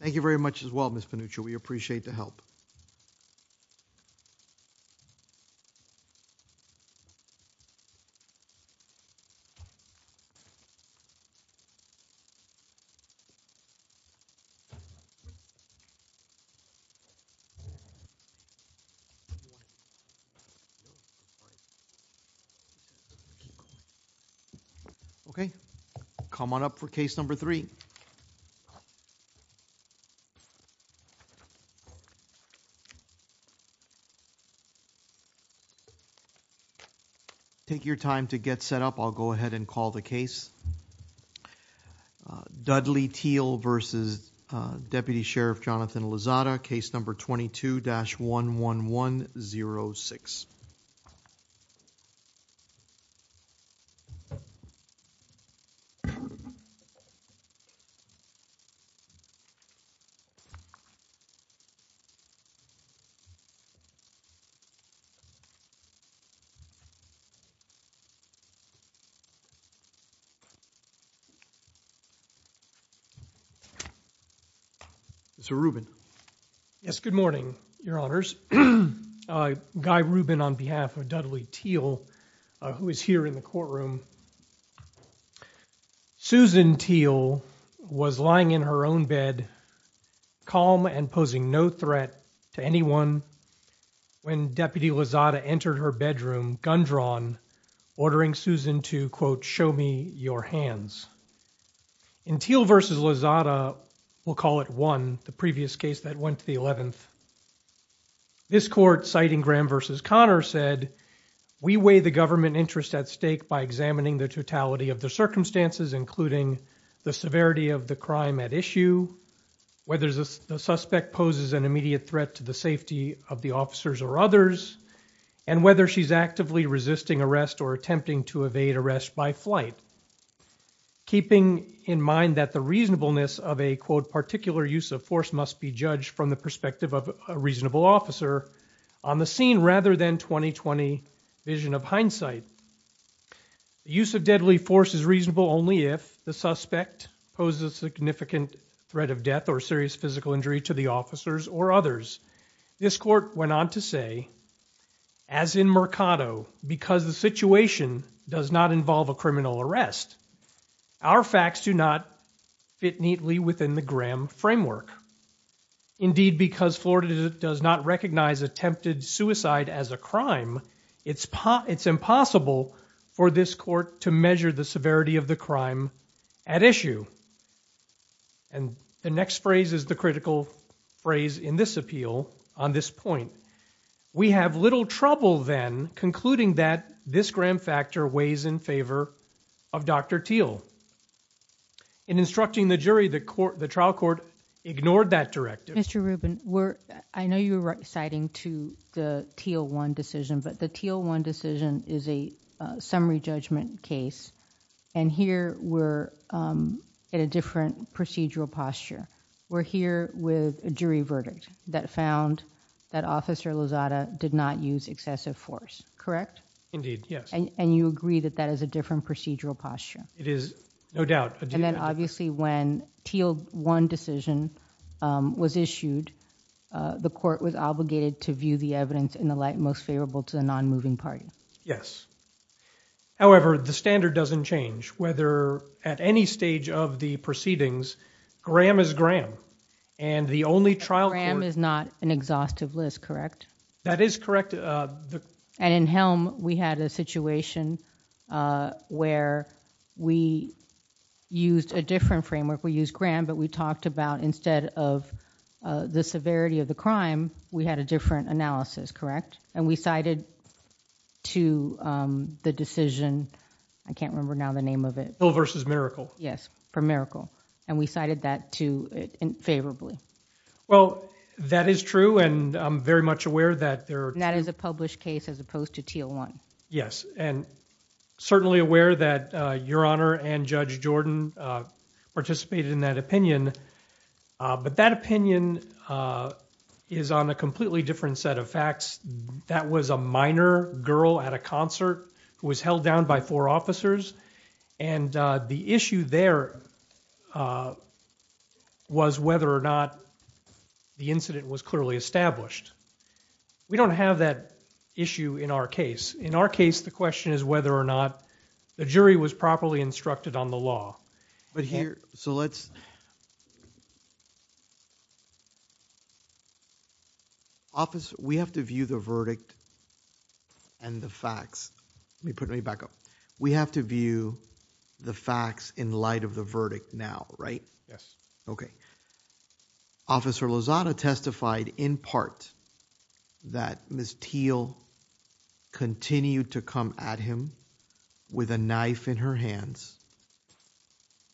Thank you very much as well, Ms. Pinuccio. We appreciate the help. Okay, come on up for case number three. Take your time to get set up. I'll go ahead and call the case. Dudley Teel v. Deputy Sheriff Jonathan Lozada, case number 22-11106. Mr. Rubin. Yes, good morning, Your Honors. Guy Rubin on behalf of Dudley Teel, who is here in the courtroom. Susan Teel was lying in her own bed, calm and posing no threat to anyone when Deputy Lozada entered her bedroom, gun drawn, ordering Susan to, quote, show me your hands. In Teel v. Lozada, we'll call it one, the We weigh the government interest at stake by examining the totality of the circumstances, including the severity of the crime at issue, whether the suspect poses an immediate threat to the safety of the officers or others, and whether she's actively resisting arrest or attempting to evade arrest by flight, keeping in mind that the reasonableness of a, quote, particular use of force must be judged from the perspective of a reasonable officer on the scene rather than 20-20 vision of hindsight. The use of deadly force is reasonable only if the suspect poses a significant threat of death or serious physical injury to the officers or others. This court went on to say, as in Mercado, because the situation does not involve a criminal arrest, our facts do not fit neatly within the Graham framework. Indeed, because Florida does not attempted suicide as a crime, it's impossible for this court to measure the severity of the crime at issue. And the next phrase is the critical phrase in this appeal on this point. We have little trouble then concluding that this Graham factor weighs in favor of Dr. Teel. In instructing the jury, the trial court ignored that directive. Mr. Rubin, I know you were citing to the Teel 1 decision, but the Teel 1 decision is a summary judgment case, and here we're at a different procedural posture. We're here with a jury verdict that found that Officer Lozada did not use excessive force, correct? Indeed, yes. And you agree that that is a different procedural posture? It is, no doubt. And then obviously when Teel 1 decision was issued, the court was obligated to view the evidence in the light most favorable to the non-moving party. Yes. However, the standard doesn't change whether at any stage of the proceedings, Graham is Graham, and the only trial court... Graham is not an exhaustive list, correct? That is correct. And in Helm, we had a situation where we used a different framework. We used Graham, but we talked about instead of the severity of the crime, we had a different analysis, correct? And we cited to the decision, I can't remember now the name of it. Hill versus Miracle. Yes, for Miracle. And we cited that to it in favorably. Well, that is true, and I'm very much aware that there... That is a published case as opposed to Teel 1. Yes, and certainly aware that Your Honor and Judge Jordan participated in that opinion, but that opinion is on a completely different set of facts. That was a minor girl at a concert who was held down by four officers, and the issue there was whether or not the incident was clearly established. We don't have that issue in our case. In our case, the question is whether or not the jury was properly instructed on the law. But here... So let's... Officer, we have to view the verdict and the facts. Let me put it back up. We have to view the facts in light of the verdict now, right? Yes. Okay. Officer Lozada testified in part that Ms. Teel continued to come at him with a knife in her hands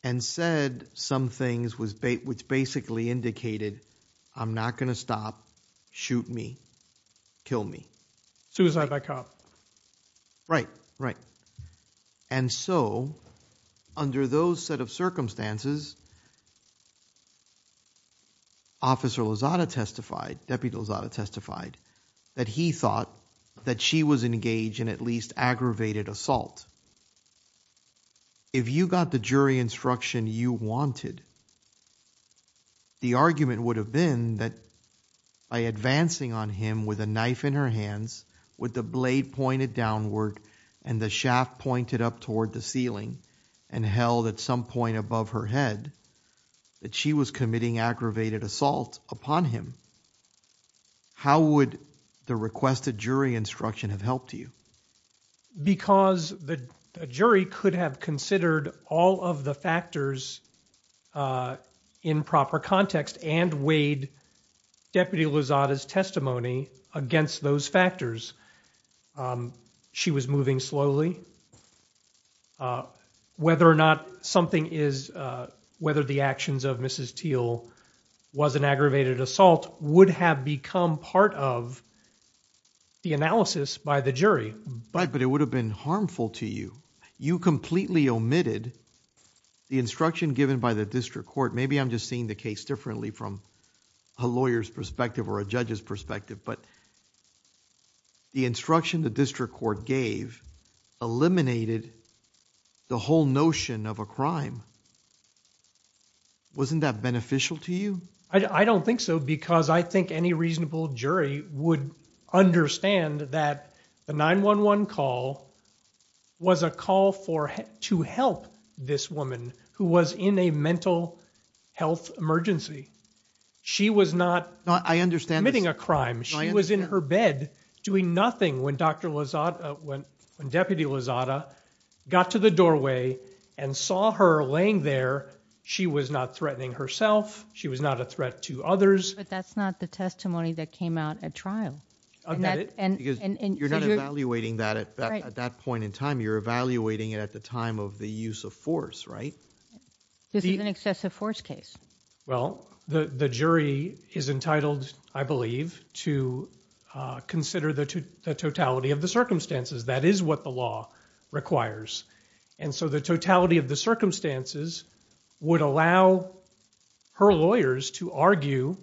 and said some things which basically indicated, I'm not going to stop, shoot me, kill me. Suicide by cop. Right, right. And so under those set of circumstances, Officer Lozada testified, Deputy Lozada testified, that he thought that she was engaged in at least aggravated assault. If you got the jury instruction you wanted, the argument would have been that by advancing on him with a knife in her hands, with the blade pointed downward and the shaft pointed up toward the ceiling and held at some point above her head, that she was committing aggravated assault upon him. How would the requested jury instruction have helped you? Because the jury could have considered all of the factors in proper context and weighed Deputy Lozada's testimony against those factors. She was moving slowly. Whether or not something is, whether the actions of Mrs. Teel was an aggravated assault would have become part of the analysis by the jury. But it would have been harmful to you. You completely omitted the instruction given by the district court. Maybe I'm just seeing the case differently from a lawyer's perspective or a judge's perspective, but the instruction the district court gave eliminated the whole notion of a crime. Wasn't that beneficial to you? I don't think so because I think any reasonable jury would understand that the 911 call was a call to help this woman who was in a mental health emergency. She was not committing a crime. She was in her bed doing nothing when Dr. Lozada, when Deputy Lozada got to the doorway and saw her laying there. She was not threatening herself. She was not a threat to others. But that's not the testimony that came out at trial. You're not evaluating that at that point in time. You're evaluating it at the time of the use of force case. Well, the jury is entitled, I believe, to consider the totality of the circumstances. That is what the law requires. And so the totality of the circumstances would allow her lawyers to argue,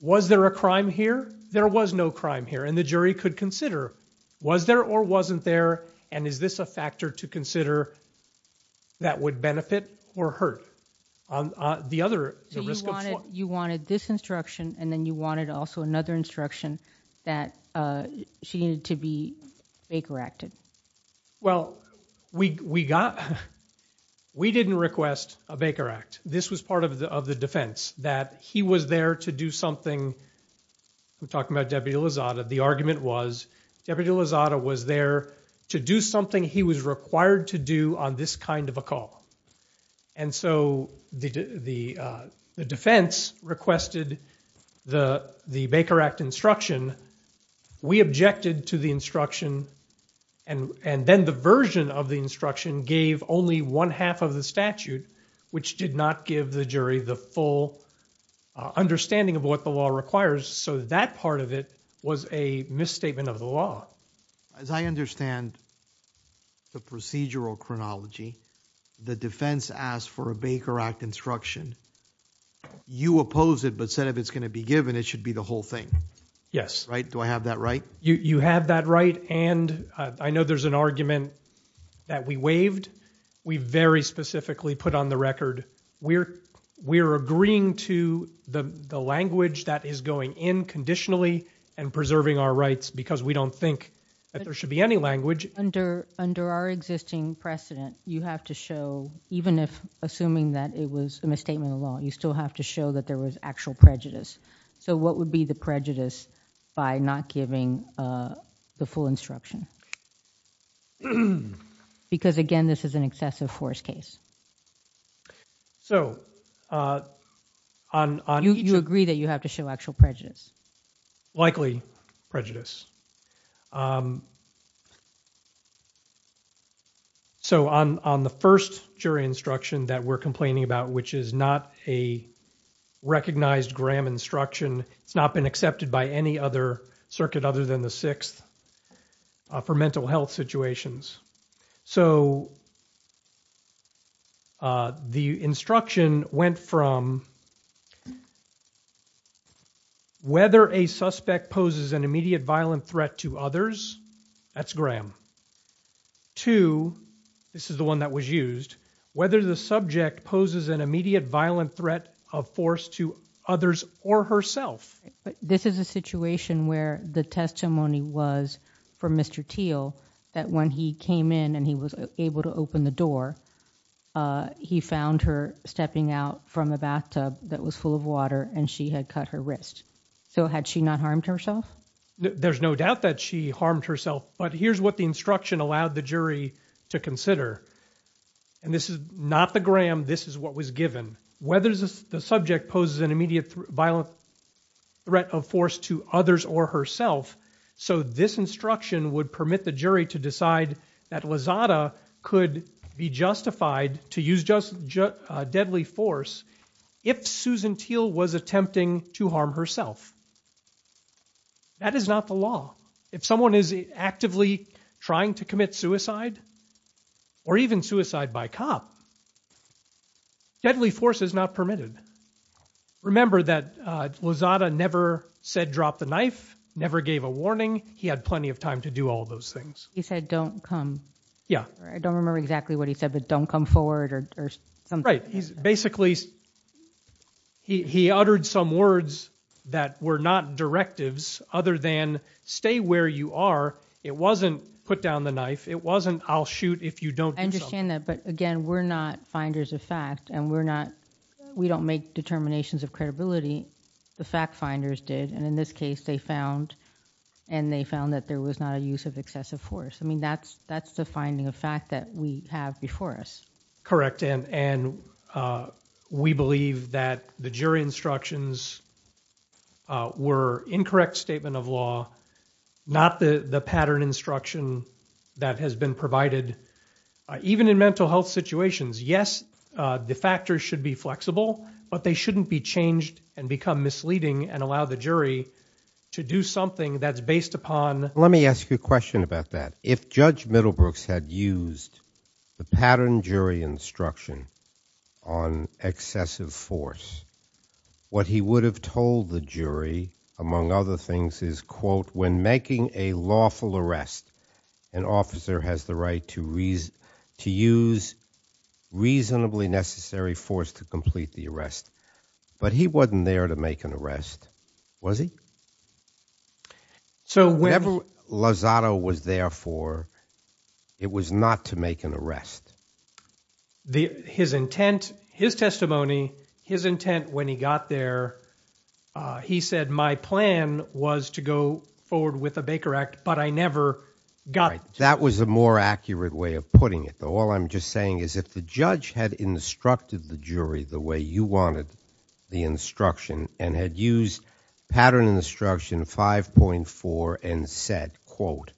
was there a crime here? There was no crime here. And the jury could consider was there or wasn't there? And is this a factor to consider that would benefit or hurt the other? So you wanted this instruction and then you wanted also another instruction that she needed to be Baker acted. Well, we didn't request a Baker Act. This was part of the defense that he was there to do something. We're talking about Deputy Lozada. The argument was Deputy Lozada was there to do something he was required to do on this kind of a call. And so the defense requested the Baker Act instruction. We objected to the instruction. And then the version of the instruction gave only one half of the statute, which did not give the jury the full understanding of what the law requires. So that part of it was a misstatement of the law. As I understand the procedural chronology, the defense asked for a Baker Act instruction. You oppose it, but said, if it's going to be given, it should be the whole thing. Yes. Right. Do I have that right? You have that right. And I know there's an argument that we waived. We very specifically put on the record. We're agreeing to the language that is going in conditionally and preserving our rights, because we don't think that there should be any language. Under our existing precedent, you have to show, even if assuming that it was a misstatement of law, you still have to show that there was actual prejudice. So what would be the prejudice by not giving the full instruction? Because, again, this is an excessive force case. So on... You agree that you have to show actual prejudice. Likely prejudice. So on the first jury instruction that we're complaining about, which is not a recognized instruction, it's not been accepted by any other circuit other than the 6th for mental health situations. So the instruction went from whether a suspect poses an immediate violent threat to others, that's Graham. To, this is the one that was used, whether the subject poses an immediate violent threat of force to others or herself. This is a situation where the testimony was from Mr. Teel, that when he came in and he was able to open the door, he found her stepping out from a bathtub that was full of water and she had cut her wrist. So had she not harmed herself? There's no doubt that she harmed herself, but here's what the instruction allowed the jury to consider. And this is not the Graham, this is what was given. Whether the subject poses an immediate violent threat of force to others or herself. So this instruction would permit the jury to decide that Lizada could be justified to use deadly force if Susan Teel was attempting to harm herself. That is not the law. If someone is actively trying to commit suicide, or even suicide by cop, deadly force is not permitted. Remember that Lizada never said drop the knife, never gave a warning. He had plenty of time to do all those things. He said don't come. Yeah. I don't remember exactly what he said, but don't come forward or something. Right. He's basically, he uttered some words that were not directives other than stay where you are. It wasn't put down the knife. It wasn't I'll shoot if you don't. I understand that, but again, we're not finders of fact and we're not, we don't make determinations of credibility. The fact finders did. And in this case they found, and they found that there was not a use of excessive force. I mean, that's, that's the finding of fact that we have before us. Correct. And, and we believe that the jury instructions were incorrect statement of law, not the, the pattern instruction that has been provided. Even in mental health situations, yes, the factors should be flexible, but they shouldn't be changed and become misleading and allow the jury to do something that's based upon. Let me ask you a question about that. If judge Middlebrooks had used the pattern jury instruction on excessive force, what he would have told the jury, among other things is quote, when making a lawful arrest, an officer has the right to reason, to use reasonably necessary force to complete the arrest, but he wasn't there to make an arrest, was he? So whenever Lozado was there for, it was not to make an arrest. The, his intent, his testimony, his intent when he got there, he said, my plan was to go forward with a Baker Act, but I never got. That was a more accurate way of putting it though. All I'm just saying is if the judge had instructed the jury the way you wanted the instruction and had used pattern instruction 5.4 and said quote,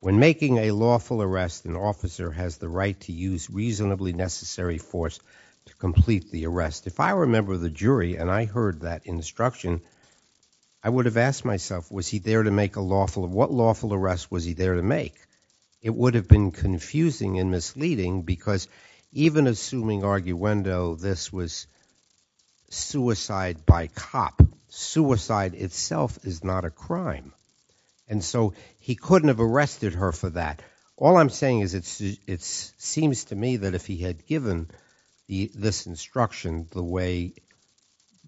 when making a lawful arrest, an officer has the right to use reasonably necessary force to complete the arrest. If I remember the jury and I heard that instruction, I would have asked myself, was he there to make a lawful, what lawful arrest was he there to make? It would have been confusing and misleading because even assuming arguendo, this was suicide by cop, suicide itself is not a crime. And so he couldn't have arrested her for that. All I'm saying is it's, it's seems to me that if he had given the, this instruction, the way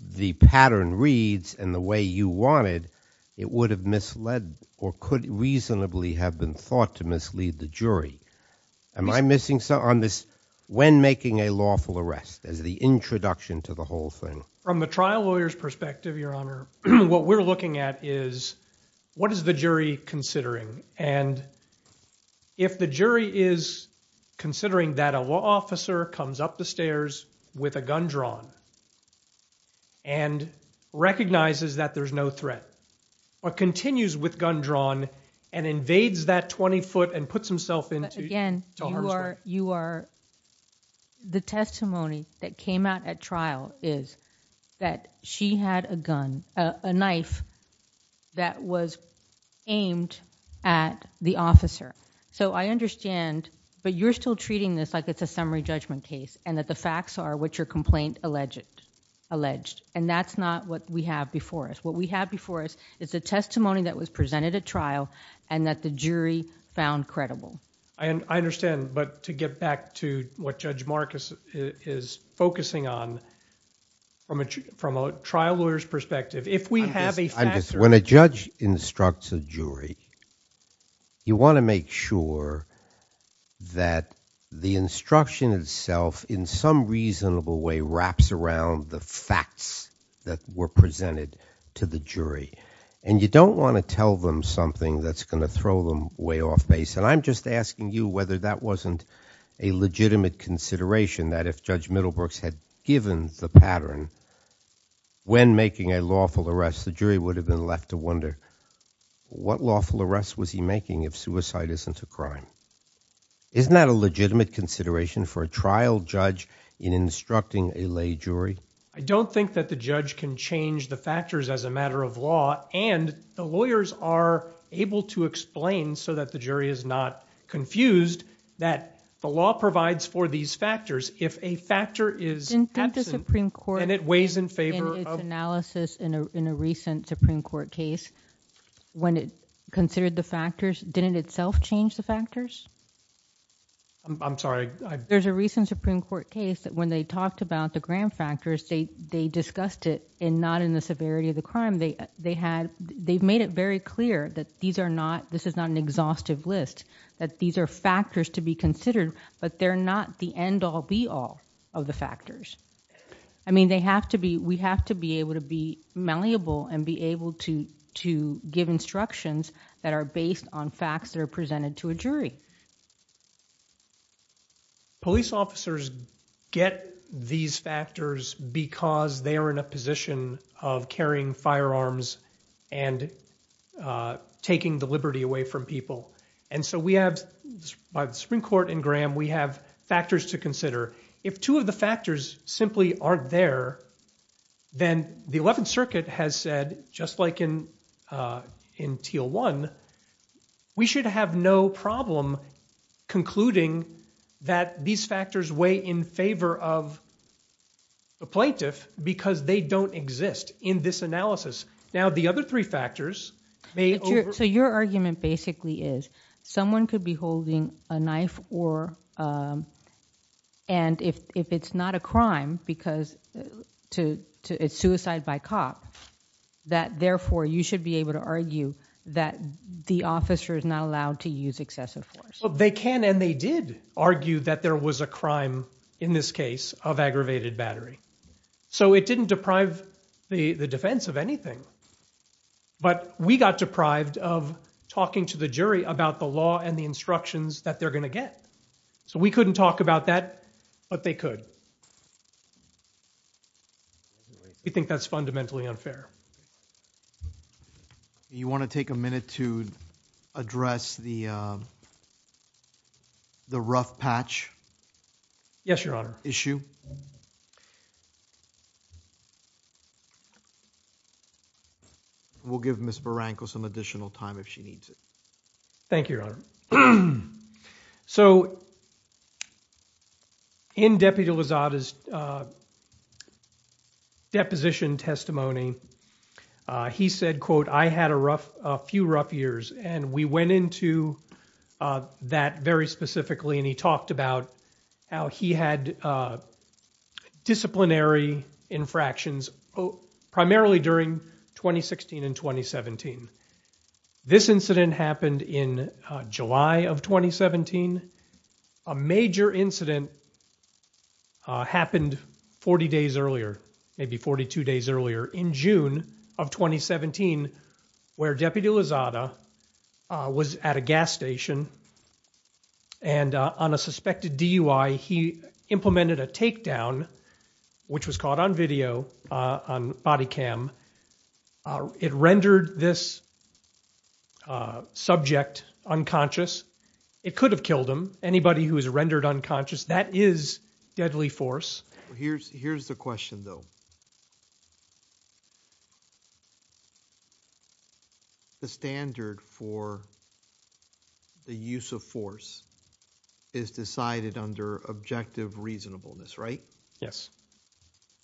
the pattern reads and the way you wanted, it would have misled or could reasonably have been thought to mislead the jury. Am I missing something on this? When making a lawful arrest as the introduction to the whole thing, from the trial lawyer's perspective, your honor, what we're looking at is what is the jury considering? And if the jury is considering that a law officer comes up the stairs with a gun drawn and recognizes that there's no threat or continues with gun drawn and invades that 20 foot and puts himself into again, you are, you are the testimony that came out at trial is that she had a gun, a knife that was aimed at the officer. So I understand, but you're still treating this like it's a summary judgment case and that the facts are what your complaint alleged, alleged, and that's not what we have before us. What we have before us is a testimony that was presented at trial and that the jury found credible. I understand. But to get back to what judge Marcus is focusing on from a, from a trial lawyer's perspective, if we have a, when a judge instructs a jury, you want to make sure that the instruction itself in some reasonable way wraps around the facts that were presented to the jury. And you don't want to tell them something that's going to throw them way off base. And I'm just asking you whether that wasn't a legitimate consideration that if judge Middlebrooks had given the pattern when making a lawful arrest, the jury would have been left to wonder what lawful arrest was he making? If suicide isn't a crime, isn't that a legitimate consideration for a trial judge in instructing a lay jury? I don't think that the judge can change the factors as a matter of law. And the lawyers are able to explain so that the jury is not confused that the law provides for these factors. If a factor is absent and it weighs in favor of... Didn't the Supreme Court in its analysis in a recent Supreme Court case, when it considered the factors, didn't it itself change the factors? I'm sorry, I... There's a recent Supreme Court case that when they talked about the factors, they discussed it and not in the severity of the crime. They've made it very clear that this is not an exhaustive list, that these are factors to be considered, but they're not the end all be all of the factors. I mean, we have to be able to be malleable and be able to give instructions that are based on facts that are presented to a jury. Police officers get these factors because they are in a position of carrying firearms and taking the liberty away from people. And so we have, by the Supreme Court and Graham, we have factors to consider. If two of the factors simply aren't there, then the 11th concluding that these factors weigh in favor of the plaintiff because they don't exist in this analysis. Now the other three factors may... So your argument basically is someone could be holding a knife or... And if it's not a crime because it's suicide by cop, that therefore you should be able to argue that the officer is not allowed to use excessive force. Well, they can and they did argue that there was a crime in this case of aggravated battery. So it didn't deprive the defense of anything. But we got deprived of talking to the jury about the law and the instructions that they're going to get. So we couldn't talk about that, but they could. We think that's fundamentally unfair. You want to take a minute to address the rough patch issue? We'll give Ms. Barranco some additional time if she needs it. Thank you, Your Honor. So in Deputy Lozada's deposition testimony, he said, quote, I had a few rough years. And we went into that very specifically and he talked about how he had disciplinary infractions primarily during 2016 and 2017. This incident happened in July of 2017. A major incident happened 40 days earlier, maybe 42 days earlier, in June of 2017, where Deputy Lozada was at a gas station. And on a suspected DUI, he implemented a takedown, which was caught on video, on body cam. It rendered this subject unconscious. It could have killed him. Anybody who is rendered unconscious, that is deadly force. Here's the question, though. The standard for the use of force is decided under objective reasonableness, right? Yes.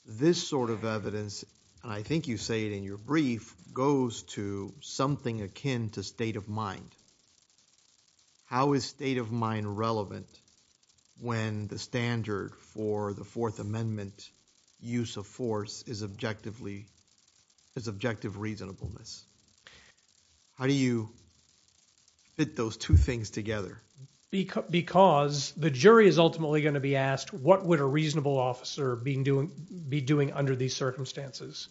This sort of evidence, and I think you say it in your brief, goes to something akin to state of mind. How is state of mind relevant when the standard for the Fourth Amendment use of force is objective reasonableness? How do you fit those two things together? Because the jury is ultimately going to be asked, what would a reasonable officer be doing under these circumstances?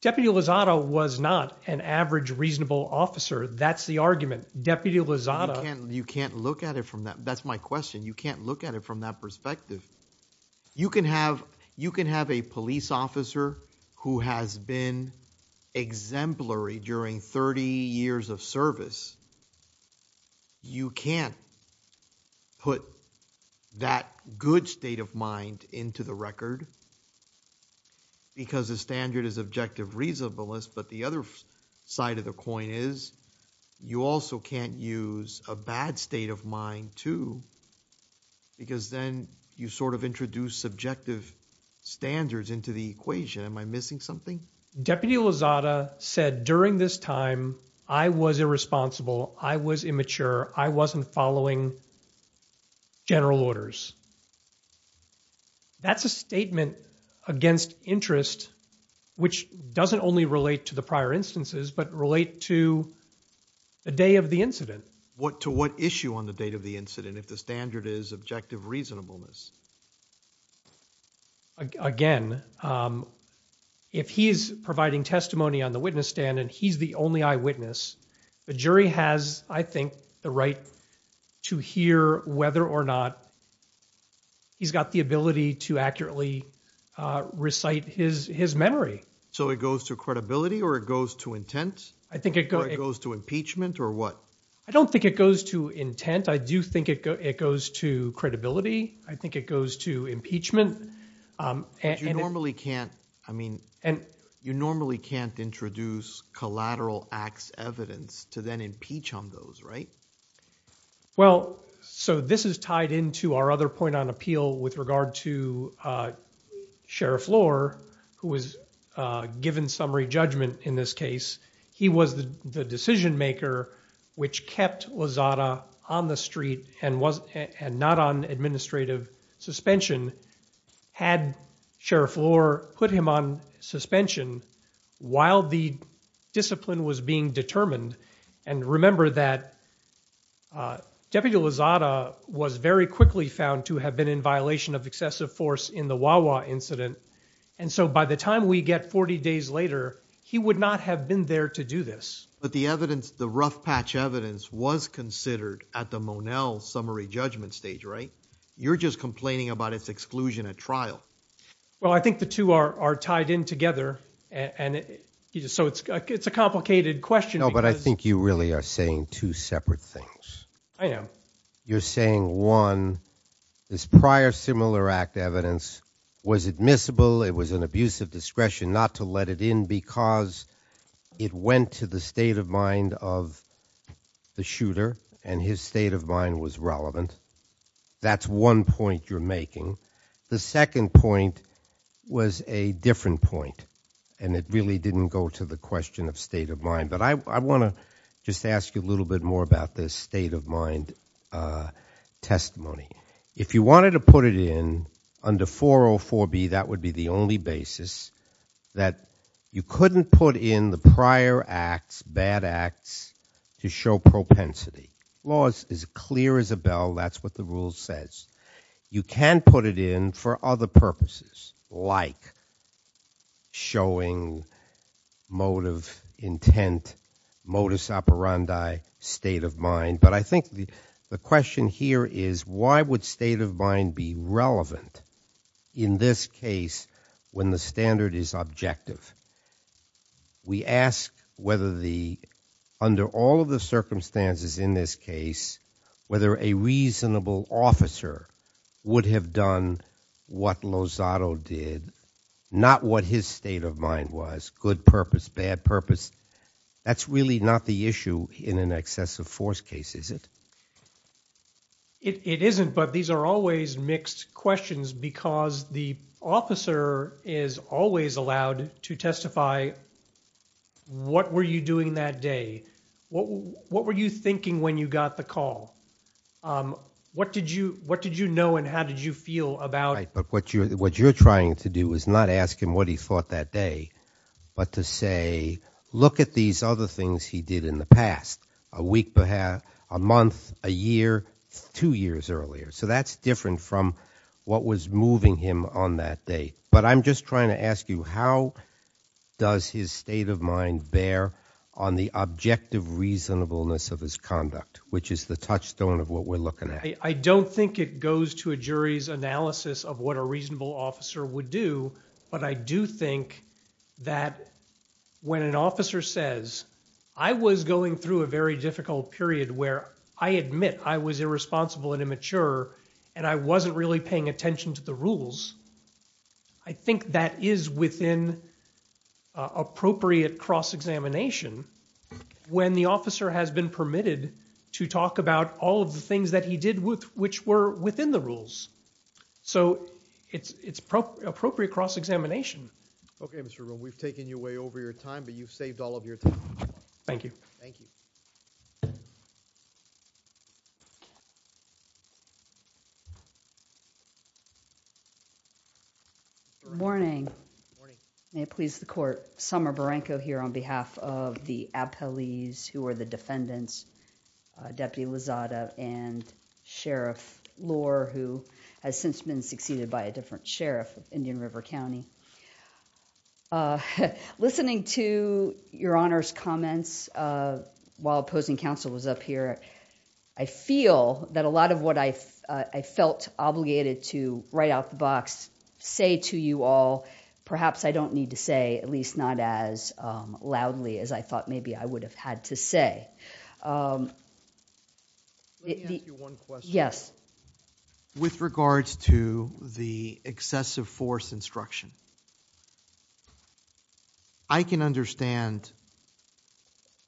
Deputy Lozada was not an average reasonable officer. That's the argument. Deputy Lozada. You can't look at it from that. That's my question. You can't look at it from that perspective. You can have a police officer who has been exemplary during 30 years of service. You can't put that good state of mind into the record because the standard is objective reasonableness, but the other side of the coin is you also can't use a bad state of mind, too, because then you sort of introduce subjective standards into the equation. Am I missing something? Deputy Lozada said during this time, I was irresponsible. I was immature. I wasn't following general orders. That's a statement against interest, which doesn't only relate to the prior instances, but relate to the day of the incident. To what issue on the date of the incident, the standard is objective reasonableness? Again, if he's providing testimony on the witness stand and he's the only eyewitness, the jury has, I think, the right to hear whether or not he's got the ability to accurately recite his memory. So it goes to credibility or it goes to intent? I think it goes to impeachment or what? I don't think it goes to intent. I do think it goes to credibility. I think it goes to impeachment. You normally can't introduce collateral acts evidence to then impeach on those, right? Well, so this is tied into our other point on appeal with regard to Sheriff Lohr, who was given summary judgment in this case. He was the and not on administrative suspension had Sheriff Lohr put him on suspension while the discipline was being determined. And remember that Deputy Lozada was very quickly found to have been in violation of excessive force in the Wawa incident. And so by the time we get 40 days later, he would not have been there to do this. But the evidence, the rough patch evidence was considered at the Monell summary judgment stage, right? You're just complaining about its exclusion at trial. Well, I think the two are tied in together and so it's a complicated question. No, but I think you really are saying two separate things. I am. You're saying one, this prior similar act evidence was admissible. It was an abuse of discretion not to let it in because it went to the state of mind of the shooter and his state of mind was relevant. That's one point you're making. The second point was a different point and it really didn't go to the question of state of mind. But I want to just ask you a little bit more about this state of mind testimony. If you wanted to put it in under 404B, that would be the only basis that you couldn't put in the prior acts, bad acts to show propensity. Laws is clear as a bell. That's what the rule says. You can put it in for other purposes like showing motive, intent, modus operandi, state of mind. But I think the question here is why would state of mind be objective? We ask whether under all of the circumstances in this case, whether a reasonable officer would have done what Lozado did, not what his state of mind was, good purpose, bad purpose. That's really not the issue in an excessive force case, is it? It isn't, but these are always mixed questions because the officer is always allowed to testify what were you doing that day? What were you thinking when you got the call? What did you know and how did you feel about it? What you're trying to do is not ask him what he thought that day, but to say, look at these other things he did in the past, a week, a month, a year, two years earlier. That's different from what was moving him on that day. But I'm just trying to ask you, how does his state of mind bear on the objective reasonableness of his conduct, which is the touchstone of what we're looking at? I don't think it goes to a jury's analysis of what a reasonable officer would do, but I do think that when an officer says, I was going through a very difficult period where I admit I was irresponsible and immature and I wasn't really paying attention to the rules, I think that is within appropriate cross-examination when the officer has been permitted to talk about all of the things he did which were within the rules. So it's appropriate cross-examination. Okay, Mr. Rubin. We've taken you way over your time, but you've saved all of your time. Thank you. Thank you. Good morning. May it please the court. Summer Barenko here on behalf of the appellees who are defendants, Deputy Lozada and Sheriff Lohr, who has since been succeeded by a different sheriff of Indian River County. Listening to your Honor's comments while opposing counsel was up here, I feel that a lot of what I felt obligated to write out the box, say to you all, perhaps I need to say at least not as loudly as I thought maybe I would have had to say. Let me ask you one question. Yes. With regards to the excessive force instruction, I can understand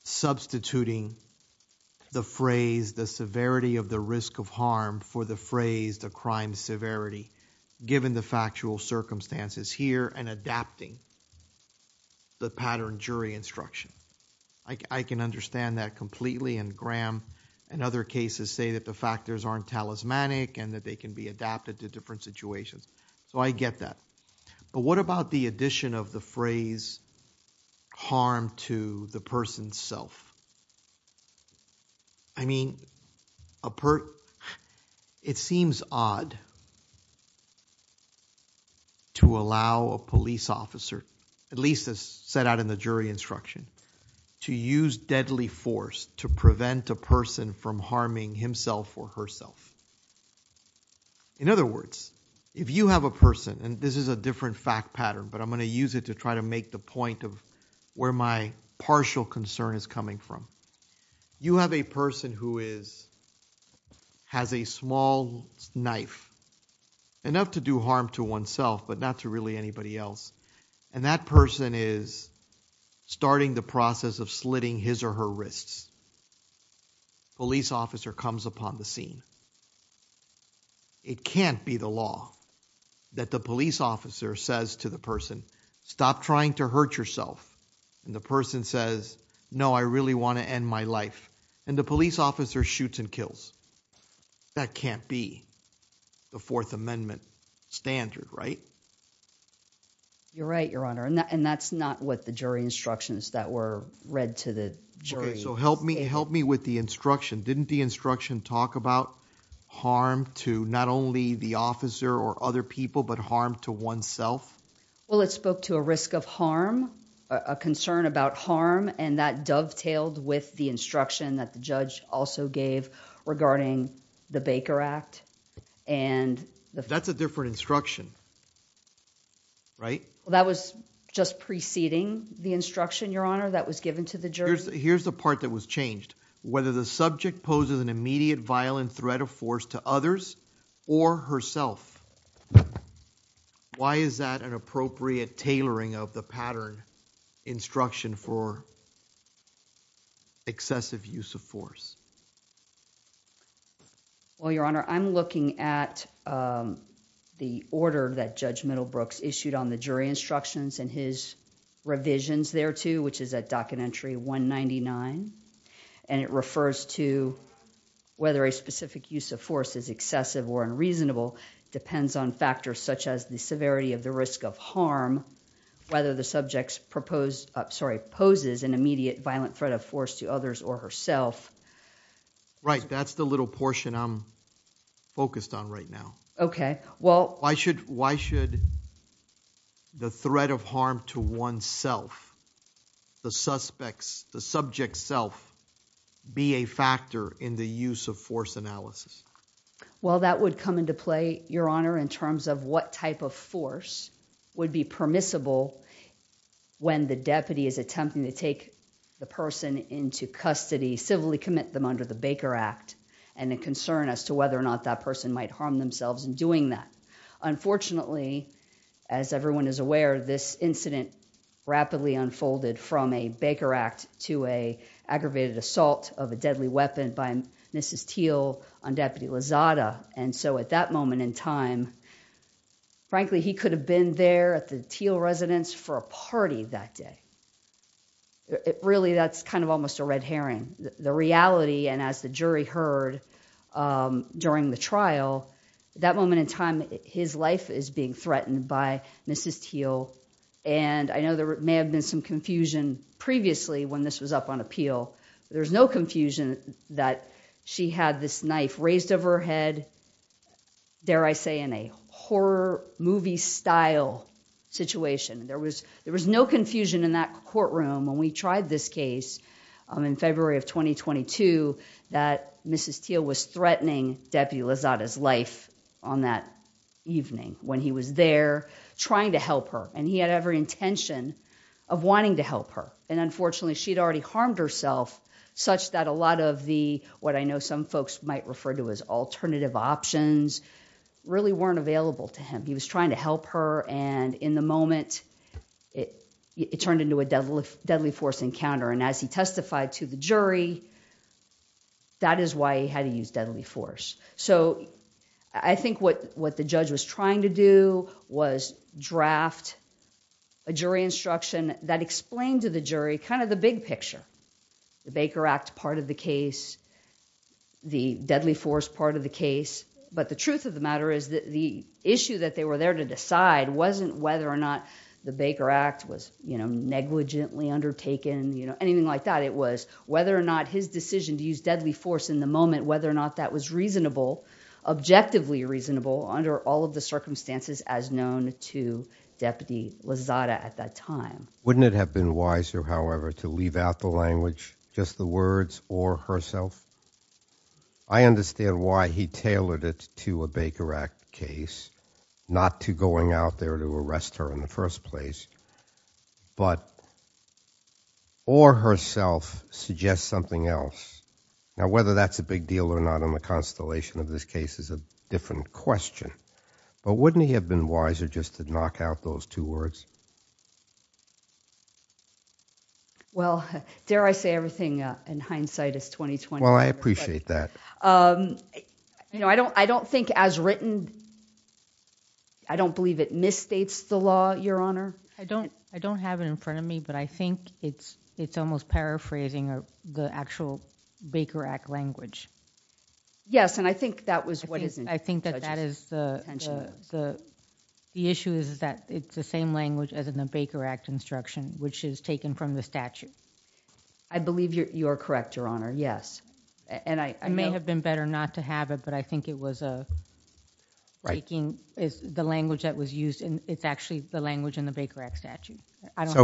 substituting the phrase, the severity of the risk of harm for the phrase, the crime severity, given the factual circumstances here and adapting the pattern jury instruction. I can understand that completely and Graham and other cases say that the factors aren't talismanic and that they can be adapted to different situations. So I get that. But what about the addition of the phrase harm to the person's self? I mean, it seems odd to allow a police officer, at least as set out in the jury instruction, to use deadly force to prevent a person from harming himself or herself. In other words, if you have a person, and this is a different fact pattern, but I'm going to use it to try to make the point of where my partial concern is coming from. You have a person who has a small knife, enough to do harm to oneself, but not to really anybody else. And that person is starting the process of slitting his or her wrists. Police officer comes upon the scene. It can't be the law that the police officer says to the person, stop trying to hurt yourself. And the person says, no, I really want to end my life. And the police officer shoots and kills. That can't be the Fourth Amendment standard, right? You're right, Your Honor. And that's not what the jury instructions that were read to the jury. So help me with the instruction. Didn't the instruction talk about harm to not only the officer or other people, but harm to oneself? Well, it spoke to a risk of harm, a concern about harm, and that dovetailed with the instruction that the judge also gave regarding the Baker Act. That's a different instruction, right? That was just preceding the instruction, Your Honor, that was given to the jury. Here's the part that was changed. Whether the subject poses an immediate violent threat of force to others or herself. Why is that an appropriate tailoring of the pattern instruction for excessive use of force? Well, Your Honor, I'm looking at the order that Judge Middlebrooks issued on the jury instructions and his revisions thereto, which is at documentary 199, and it refers to whether a specific use of force is excessive or unreasonable depends on factors such as the severity of the risk of harm, whether the subject poses an immediate violent threat of force to others or herself. Right, that's the little portion I'm focused on right now. Why should the threat of harm to oneself, the suspect's, the subject's self, be a factor in the use of force analysis? Well, that would come into play, Your Honor, in terms of what type of force would be permissible when the deputy is attempting to take the person into custody, civilly commit them under the Baker Act and the concern as to whether or not that person might harm themselves in doing that. Unfortunately, as everyone is aware, this incident rapidly unfolded from a Baker Act to an aggravated assault of a deadly weapon by Mrs. Teel on Deputy Lozada, and so at that moment in time, frankly, he could have been there at the Teel residence for a party that day. It really, that's kind of almost a red herring. The reality, and as the jury heard during the trial, that moment in time, his life is being threatened by Mrs. Teel, and I know there may have been some confusion previously when this was up on appeal. There's no confusion that she had this knife raised over her head, dare I say, in a horror movie style situation. There was no confusion in that courtroom when we tried this case in February of 2022 that Mrs. Teel was threatening Deputy Lozada's life on that evening when he was there trying to help her, and he had every intention of wanting to help her. Unfortunately, she'd already harmed herself such that a lot of the, what I know some folks might refer to as alternative options, really weren't available to him. He was trying to help her, and in the moment, it turned into a deadly force encounter, and as he testified to the jury, that is why he had to use deadly force. I think what the judge was trying to do was draft a jury instruction that explained to the jury kind of the big picture, the Baker Act part of the case, the deadly force part of the case, but the truth of the matter is that the issue that they were there to decide wasn't whether or not the Baker Act was negligently undertaken, anything like that. It was whether or not his decision to use deadly force in the moment, whether or not that was reasonable, objectively reasonable under all of the circumstances as known to Deputy Lozada at that time. Wouldn't it have been wiser, however, to leave out the language, just the words, or herself? I understand why he tailored it to a Baker Act case, not to going out there to arrest her in the first place, but or herself suggests something else. Now, whether that's a big deal or not on the constellation of this case is a different question, but wouldn't it have been wiser just to knock out those two words? Well, dare I say everything in hindsight is 20-20. Well, I appreciate that. I don't think as written, I don't believe it misstates the law, Your Honor. I don't have it in front of me, but I think it's almost paraphrasing the actual Baker Act language. Yes, and I think that was what is... I think that that is the issue is that it's the same language as in the Baker Act instruction, which is taken from the statute. I believe you're correct, Your Honor, yes. I may have been better not to have it, but I think it was the language that was used, and it's actually the language in the Baker Act statute.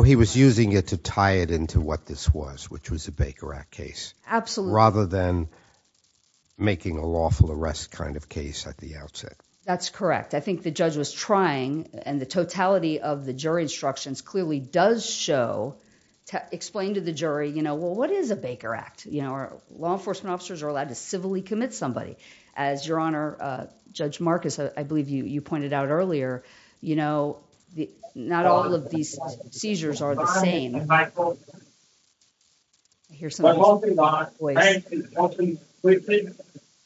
He was using it to tie it into what this was, which was a Baker Act case. Absolutely. Rather than making a lawful arrest kind of case at the outset. That's correct. I think the judge was trying, and the totality of the jury instructions clearly does show, explain to the jury, well, what is a Baker Act? Law enforcement officers are allowed to civilly commit somebody. As Your Honor, Judge Marcus, I believe you pointed out earlier, not all of these seizures are the same. I hear somebody's voice. I'm hoping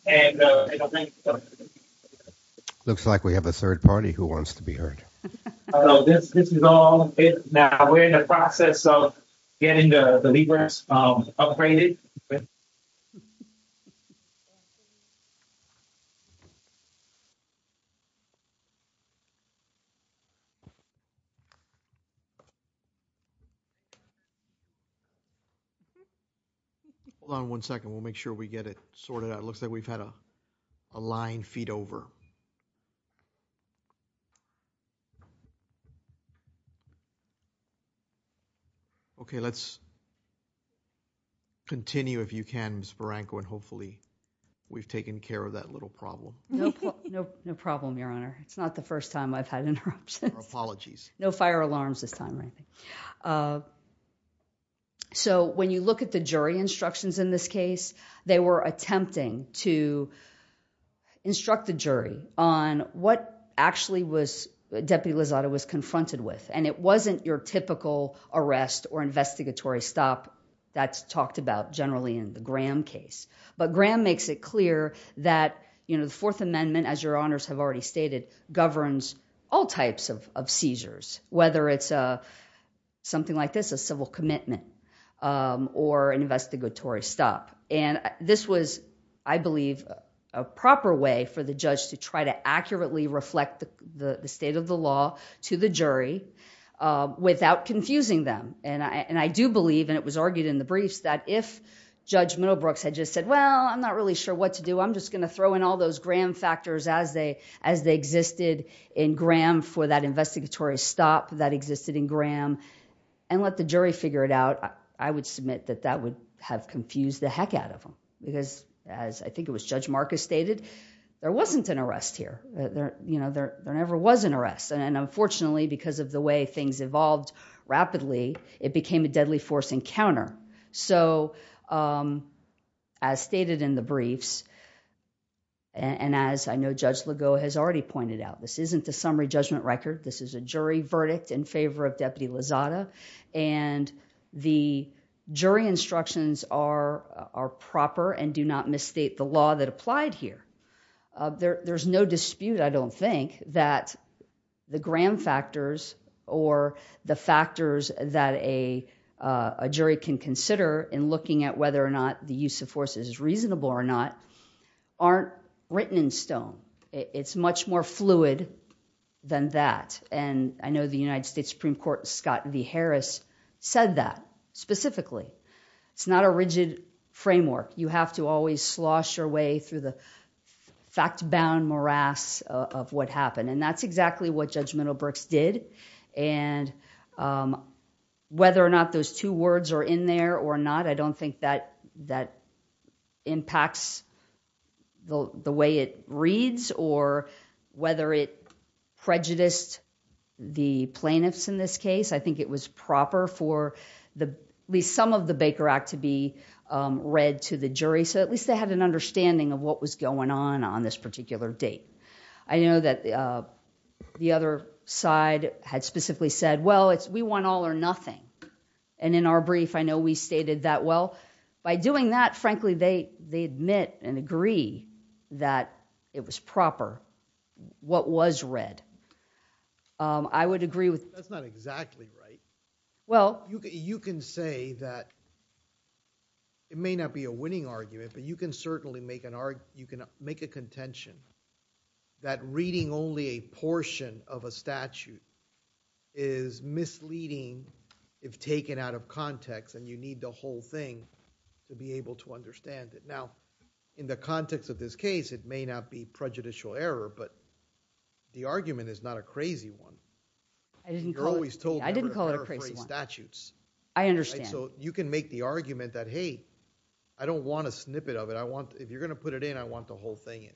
not. Looks like we have a third party who wants to be heard. This is all... Now, we're in the process of getting the lemurs upgraded. Ben? Hold on one second. We'll make sure we get it sorted out. It looks like we've had a line feed over. Okay. Let's continue if you can, Ms. Barranco, and hopefully we've taken care of that little problem. No problem, Your Honor. It's not the first time I've had interruptions. Apologies. No fire alarms this time, I think. When you look at the jury instructions in this case, they were attempting to construct a jury on what actually Deputy Lozada was confronted with. It wasn't your typical arrest or investigatory stop that's talked about generally in the Graham case, but Graham makes it clear that the Fourth Amendment, as Your Honors have already stated, governs all types of seizures, whether it's something like this, a civil commitment, or an investigatory stop. This was, I believe, a proper way for the judge to try to accurately reflect the state of the law to the jury without confusing them. I do believe, and it was argued in the briefs, that if Judge Middlebrooks had just said, well, I'm not really sure what to do. I'm just going to throw in all those Graham factors as they existed in Graham for that investigatory stop that existed in Graham and let the jury figure it out, I would submit that that would have confused the heck out of them. Because, as I think it was Judge Marcus stated, there wasn't an arrest here. There never was an arrest, and unfortunately, because of the way things evolved rapidly, it became a deadly force encounter. As stated in the briefs, and as I know Judge Legault has already pointed out, this isn't a summary judgment record. This is a jury verdict in favor of Deputy Lozada, and the jury instructions are proper and do not misstate the law that applied here. There's no dispute, I don't think, that the Graham factors or the factors that a jury can consider in looking at whether or not the use of force is reasonable or not aren't written in stone. It's much more fluid than that, and I know the United States Supreme Court, Scott v. Harris, said that specifically. It's not a rigid framework. You have to always slosh your way through the fact-bound morass of what happened, and that's exactly what Judge Middlebrooks did, and whether or not those two words are in there or not, I don't think that impacts the way it reads or whether it prejudiced the plaintiffs in this case. I think it was proper for at least some of the Baker Act to be read to the jury, so at least they had an understanding of what was going on on this particular date. I know that the other side had specifically said, well, we want all or nothing, and in our brief, I know we stated that well. By doing that, frankly, they admit and agree that it was proper what was read. I would agree with... That's not exactly right. Well... You can say that it may not be a winning argument, but you can certainly make a contention that reading only a portion of a statute is misleading if taken out of context and you need the whole thing to be able to understand it. Now, in the context of this case, it may not be prejudicial error, but the argument is not a crazy one. I didn't call it... You're always told... I didn't call it a crazy one.... statutes. I understand. So you can make the argument that, hey, I don't want a snippet of it. I want... if you're going to put it in, I want the whole thing in.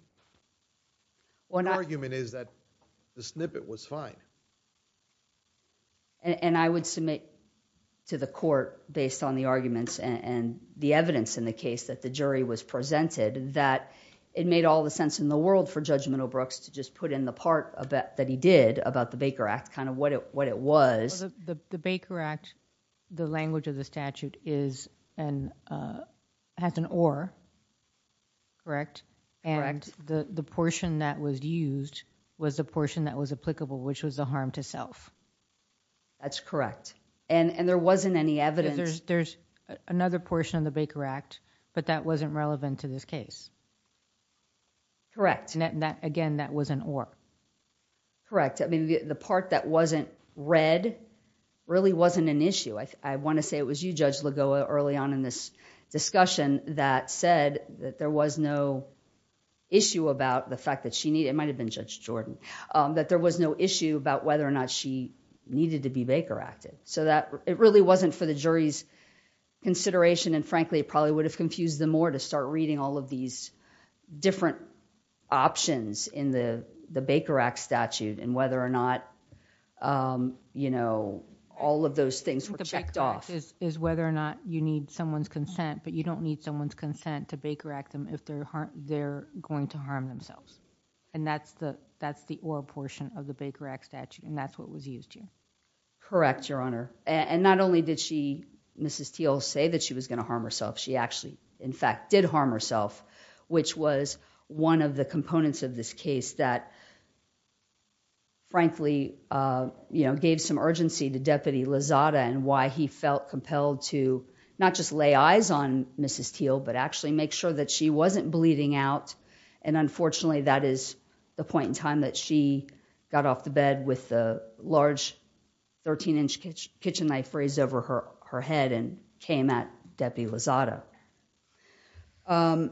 The argument is that the snippet was fine. And I would submit to the court, based on the arguments and the evidence in the case that the jury was presented, that it made all the sense in the world for Judge Minow-Brooks to just put in the part that he did about the Baker Act, kind of what it was. The Baker Act, the language of the statute has an or, correct? Correct. The portion that was used was the portion that was applicable, which was the harm to self. That's correct. And there wasn't any evidence... There's another portion of the Baker Act, but that wasn't relevant to this case. Correct. Again, that was an or. Correct. I mean, the part that wasn't read really wasn't an issue. I want to say it was you, Judge Lagoa, early on in this discussion that said that there was no issue about the fact that she... it might have been Judge Jordan... that there was no issue about whether or not she needed to be Baker Acted. So, it really wasn't for the jury's consideration, and frankly, it probably would have confused them more to start reading all of these different options in the Baker Act statute and whether or not all of those things were checked off. The Baker Act is whether or not you need someone's consent, but you don't need consent to Baker Act them if they're going to harm themselves. And that's the or portion of the Baker Act statute, and that's what was used here. Correct, Your Honor. And not only did she, Mrs. Teel, say that she was going to harm herself, she actually, in fact, did harm herself, which was one of the components of this case that, frankly, gave some urgency to Deputy Lozada and why he felt compelled to not just lay eyes on Mrs. Teel, but actually make sure that she wasn't bleeding out. And unfortunately, that is the point in time that she got off the bed with a large 13-inch kitchen knife raised over her head and came at Deputy Lozada. I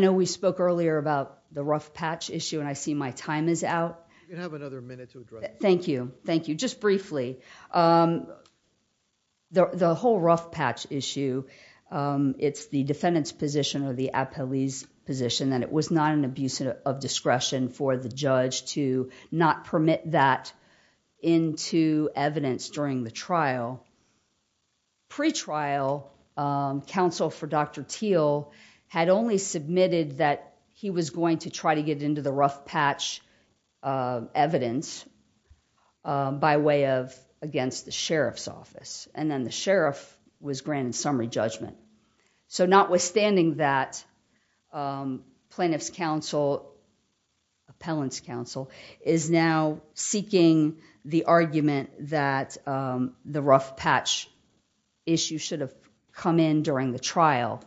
know we spoke earlier about the rough patch issue, and I see my time is out. You have another minute to address... Thank you. Thank you. Just briefly, the whole rough patch issue, it's the defendant's position or the appellee's position that it was not an abuse of discretion for the judge to not permit that into evidence during the trial. Pretrial counsel for Dr. Teel had only submitted that he was going to try to get into the rough patch evidence by way of against the sheriff's office, and then the sheriff was granted summary judgment. Notwithstanding that, plaintiff's counsel, appellant's counsel, is now seeking the argument that the rough patch issue should have come in during the trial.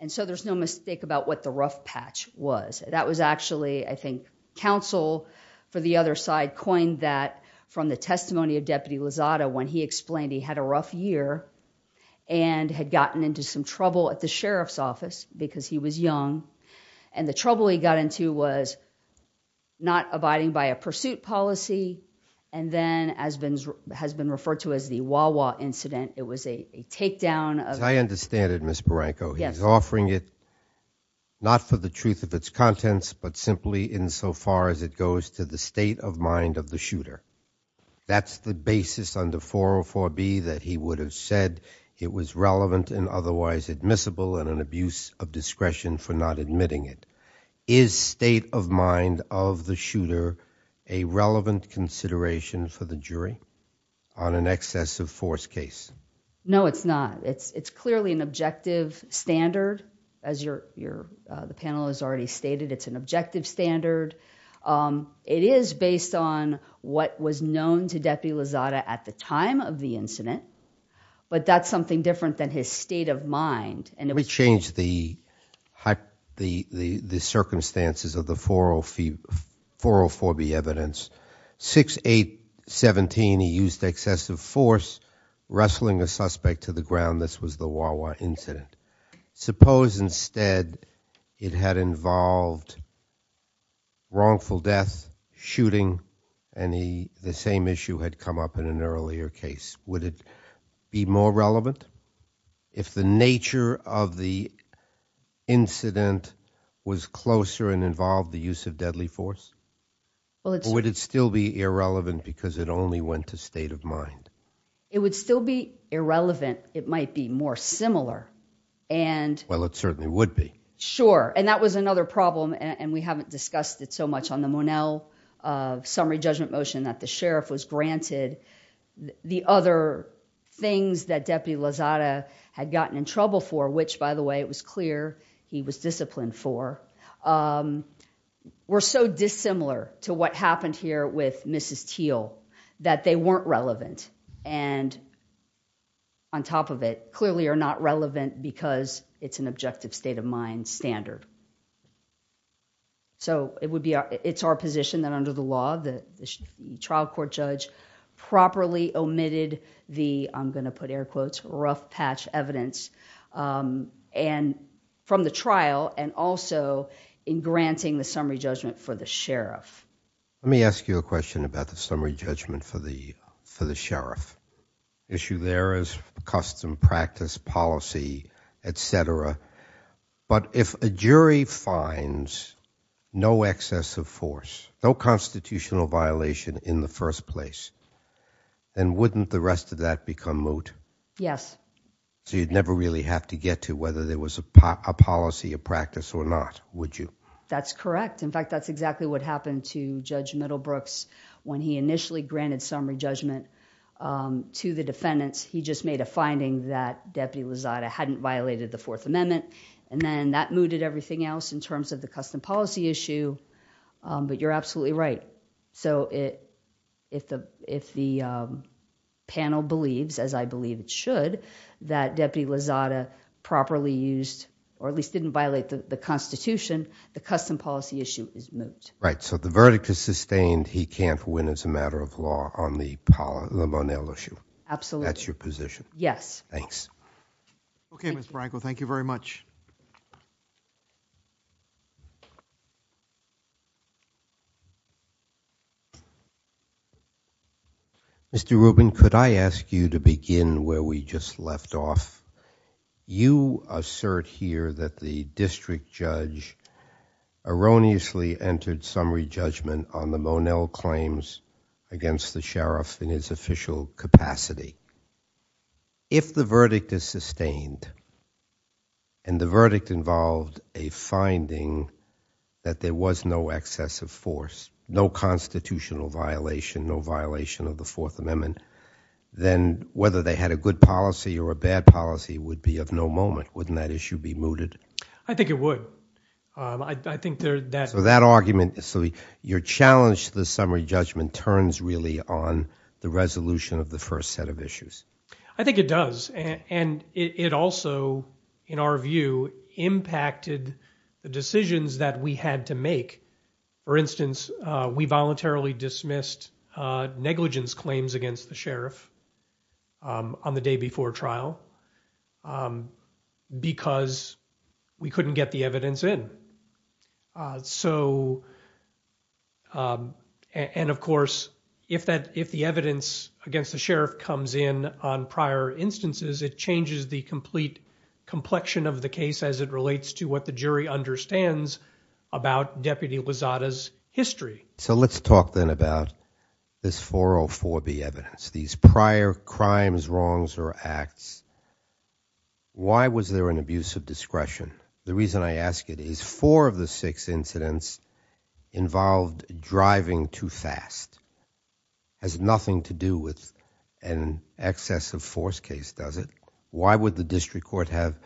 There's no mistake about what the rough patch was. I think counsel for the other side coined that from the testimony of Deputy Lozada when he explained he had a rough year and had gotten into some trouble at the sheriff's office because he was young, and the trouble he got into was not abiding by a pursuit policy, and then has been referred to as the Wawa incident. It was a takedown of... I understand it, Ms. Barranco. Yes. Offering it not for the truth of its contents, but simply insofar as it goes to the state of mind of the shooter. That's the basis under 404B that he would have said it was relevant and otherwise admissible and an abuse of discretion for not admitting it. Is state of mind of the shooter a relevant consideration for the jury on an excessive force case? No, it's not. It's clearly an objective standard, as the panel has already stated. It's an objective standard. It is based on what was known to Deputy Lozada at the time of the incident, but that's something different than his state of mind. We changed the circumstances of the 404B evidence. 6-8-17, he used excessive force wrestling a suspect to the ground. This was the Wawa incident. Suppose instead it had involved wrongful death, shooting, and the same issue had come up in an earlier case. Would it be more relevant if the nature of the incident was closer and involved the use of deadly force? Would it still be irrelevant because it only went to state of mind? It would still be irrelevant. It might be more similar. Well, it certainly would be. Sure. That was another problem, and we haven't discussed it so much on the Monell summary judgment motion that the sheriff was granted. The other things that Deputy Lozada had gotten in trouble for, which by for, were so dissimilar to what happened here with Mrs. Teel that they weren't relevant, and on top of it, clearly are not relevant because it's an objective state of mind standard. It's our position that under the law, the trial court judge properly omitted the, I'm going to put air quotes, rough patch evidence. And from the trial and also in granting the summary judgment for the sheriff. Let me ask you a question about the summary judgment for the sheriff. Issue there is custom practice policy, et cetera, but if a jury finds no excess of force, no constitutional violation in the first place, then wouldn't the rest of that become moot? Yes. So you'd never really have to get to whether there was a policy or practice or not, would you? That's correct. In fact, that's exactly what happened to Judge Middlebrooks when he initially granted summary judgment to the defendants. He just made a finding that Deputy Lozada hadn't violated the Fourth Amendment, and then that mooted everything else in terms of the custom policy issue, but you're absolutely right. So if the panel believes, as I believe it should, that Deputy Lozada properly used or at least didn't violate the constitution, the custom policy issue is moot. Right. So the verdict is sustained. He can't win as a matter of law on the Monel issue. Absolutely. That's your position? Yes. Thanks. Okay, Ms. Branko, thank you very much. Mr. Rubin, could I ask you to begin where we just left off? You assert here that the district judge erroneously entered summary judgment on the Monel claims against the sheriff in his official capacity. If the verdict is sustained and the verdict involved a finding that there was no excessive force, no constitutional violation, no violation of the Fourth Amendment, then whether they had a good policy or a bad policy would be of no moment. Wouldn't that issue be mooted? I think it would. So that argument, so your challenge to the summary judgment turns really on the resolution of the first set of issues. I think it does, and it also, in our view, impacted the decisions that we had to make. For instance, we voluntarily dismissed negligence claims against the sheriff on the day before trial because we couldn't get the evidence in. And of course, if the evidence against the sheriff comes in on prior instances, it changes the complete complexion of the case as it relates to what the jury understands about Deputy Lozada's history. So let's talk then about this 404B evidence, these prior crimes, wrongs, or acts. Why was there an abuse of discretion? The reason I ask it is four of the six incidents involved driving too fast. Has nothing to do with an excessive force case, does it? Why would the district court have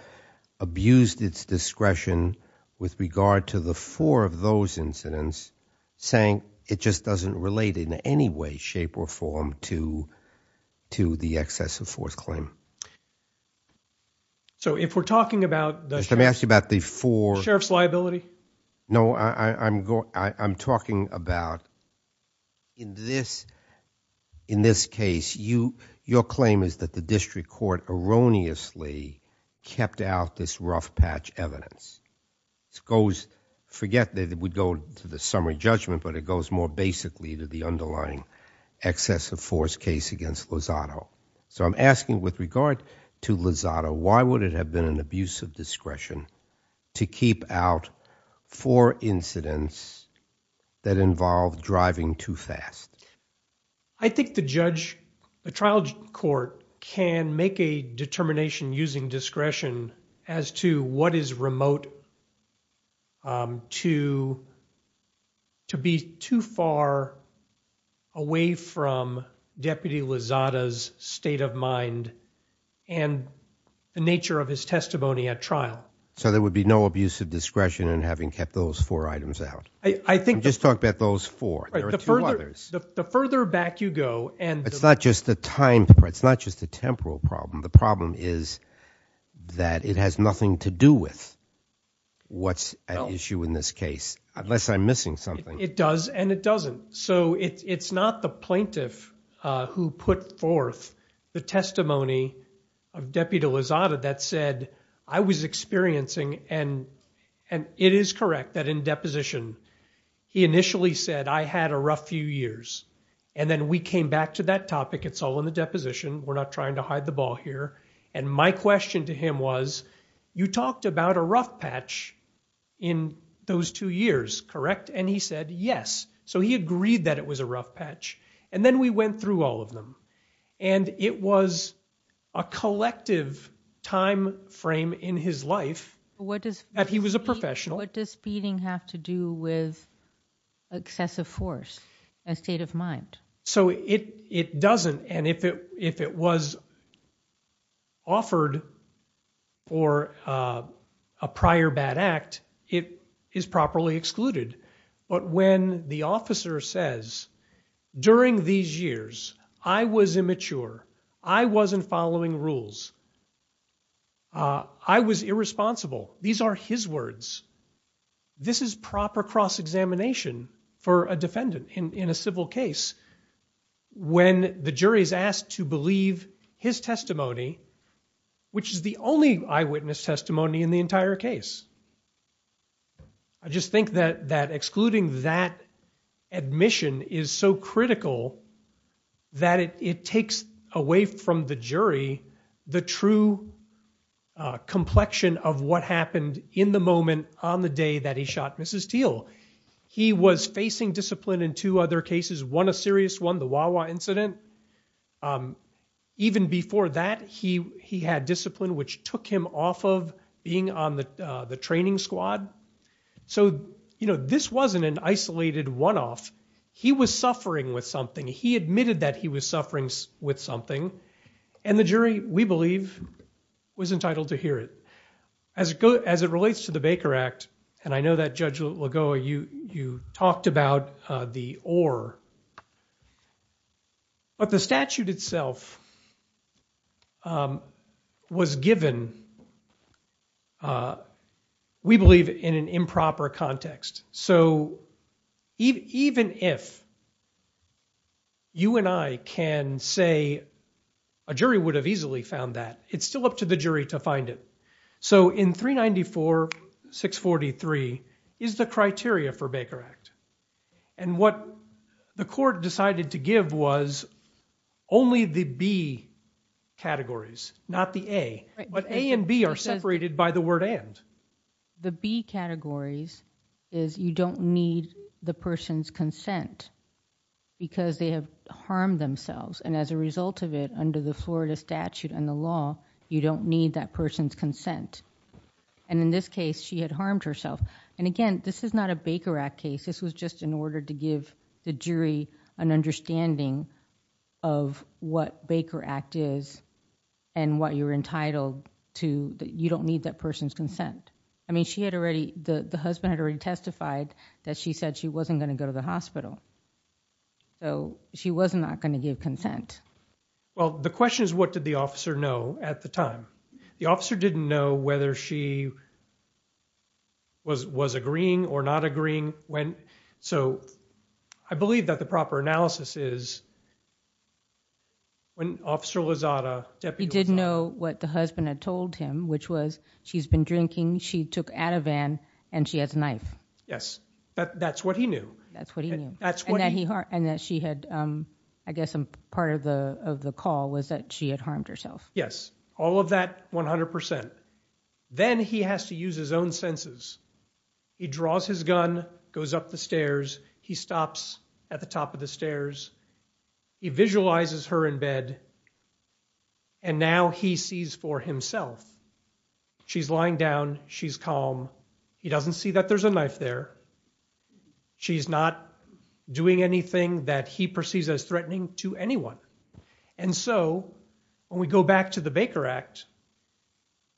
abused its discretion with regard to the four of those incidents saying it just doesn't relate in any way, shape, or form to the excessive force claim? So if we're talking about the sheriff's liability? No, I'm talking about in this case, your claim is that the district court erroneously kept out this rough patch evidence. It goes, forget that it would go to the summary judgment, but it goes more basically to the underlying excessive force case against Lozada. So I'm asking with regard to Lozada, why would it have been an abuse of discretion to keep out four incidents that involved driving too fast? I think the trial court can make a determination using discretion as to what is remote to be too far away from Deputy Lozada's state of mind and the nature of his testimony at trial. So there would be no abuse of discretion in having kept those four items out? I'm just talking about those four, there are two others. The further back you go and- It's not just the time, it's not just a temporal problem. The problem is that it has nothing to do with what's at issue in this case, unless I'm missing something. It does and it doesn't. So it's not the plaintiff who put forth the testimony of Deputy Lozada that said, I was experiencing, and it is correct that in deposition, he initially said, I had a rough few years. And then we came back to that topic, it's all in the deposition, we're not trying to hide the ball here. And my question to him was, you talked about a rough patch in those two years, correct? And he said, yes. So he agreed that it was a rough patch. And then we went through all of them. And it was a collective time frame in his life that he was a professional. What does beating have to do with excessive force, a state of mind? So it doesn't. And if it was offered for a prior bad act, it is properly excluded. But when the officer says, during these years, I was immature, I wasn't following rules, I was irresponsible. These are his words. This is proper cross-examination for a defendant in a civil case, when the jury is asked to believe his testimony, which is the only eyewitness testimony in the entire case. I just think that excluding that admission is so critical that it takes away from the jury the true complexion of what happened in the moment on the day that he shot Mrs. Teal. He was facing discipline in two other cases, one a serious one, the Wawa incident. Even before that, he had discipline, which took him off of being on the training squad. So this wasn't an isolated one-off. He was suffering with something. He admitted that he was suffering with something. And the jury, we believe, was entitled to hear it. As it relates to the Baker Act, and I know that, Judge Lagoa, you talked about the or. But the statute itself was given, we believe, in an improper context. So even if you and I can say a jury would have easily found that, it's still up to the jury to find it. So in 394-643 is the criteria for Baker Act. And what the court decided to give was only the B categories, not the A. But A and B are separated by the word and. The B categories is you don't need the person's consent because they have harmed themselves. And as a result of it, under the Florida statute and the law, you don't need that person's consent. And in this case, she had harmed herself. And again, this is not a Baker Act case. This was just in order to give the jury an understanding of what Baker Act is and what you're entitled to. You don't need that person's consent. I mean, she had already, the husband had already testified that she said she wasn't going to go to the hospital. So she was not going to give consent. Well, the question is, what did the officer know at the time? The officer didn't know whether she was agreeing or not agreeing when. So I believe that the proper analysis is. When Officer Lozada, he did know what the husband had told him, which was she's been drinking, she took out a van and she has a knife. Yes, that's what he knew. That's what he knew. That's what he heard. And that she had, I guess, part of the call was that she had harmed herself. Yes, all of that. One hundred percent. Then he has to use his own senses. He draws his gun, goes up the stairs. He stops at the top of the stairs. He visualizes her in bed and now he sees for himself. She's lying down. She's calm. He doesn't see that there's a knife there. She's not doing anything that he perceives as threatening to anyone. And so when we go back to the Baker Act,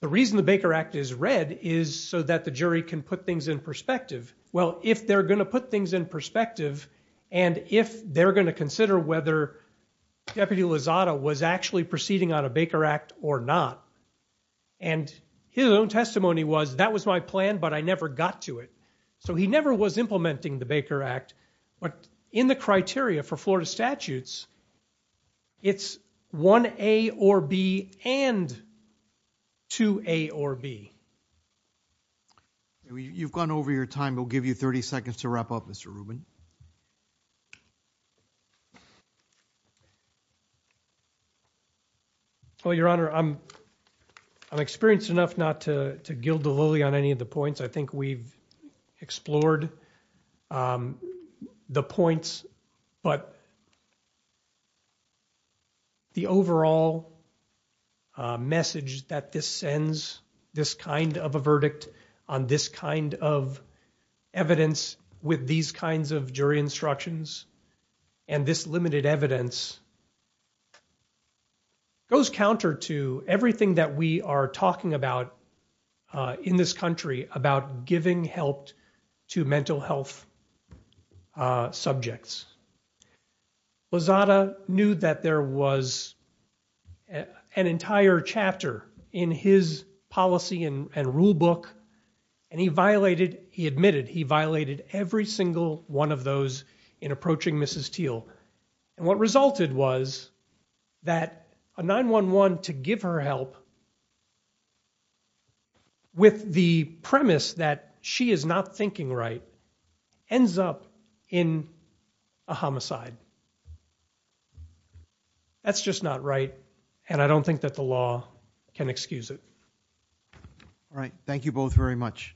the reason the Baker Act is red is so that the jury can put things in perspective. Well, if they're going to put things in perspective and if they're going to consider whether Deputy Lozada was actually proceeding on a Baker Act or not. And his own testimony was that was my plan, but I never got to it. So he never was implementing the Baker Act. But in the criteria for Florida statutes, it's one A or B and two A or B. You've gone over your time. We'll give you 30 seconds to wrap up, Mr. Rubin. Well, Your Honor, I'm experienced enough not to gild the lily on any of the points. I think we've explored the points. But the overall message that this sends, this kind of a verdict on this kind of evidence with these kinds of jury instructions and this limited evidence goes counter to everything that we are talking about in this country about giving help to mental health subjects. Lozada knew that there was an entire chapter in his policy and rule book. And he violated, he admitted he violated every single one of those in approaching Mrs. Teal. And what resulted was that a 9-1-1 to give her help with the premise that she is not thinking right ends up in a homicide. That's just not right. And I don't think that the law can excuse it. All right. Thank you both very much. Thank you.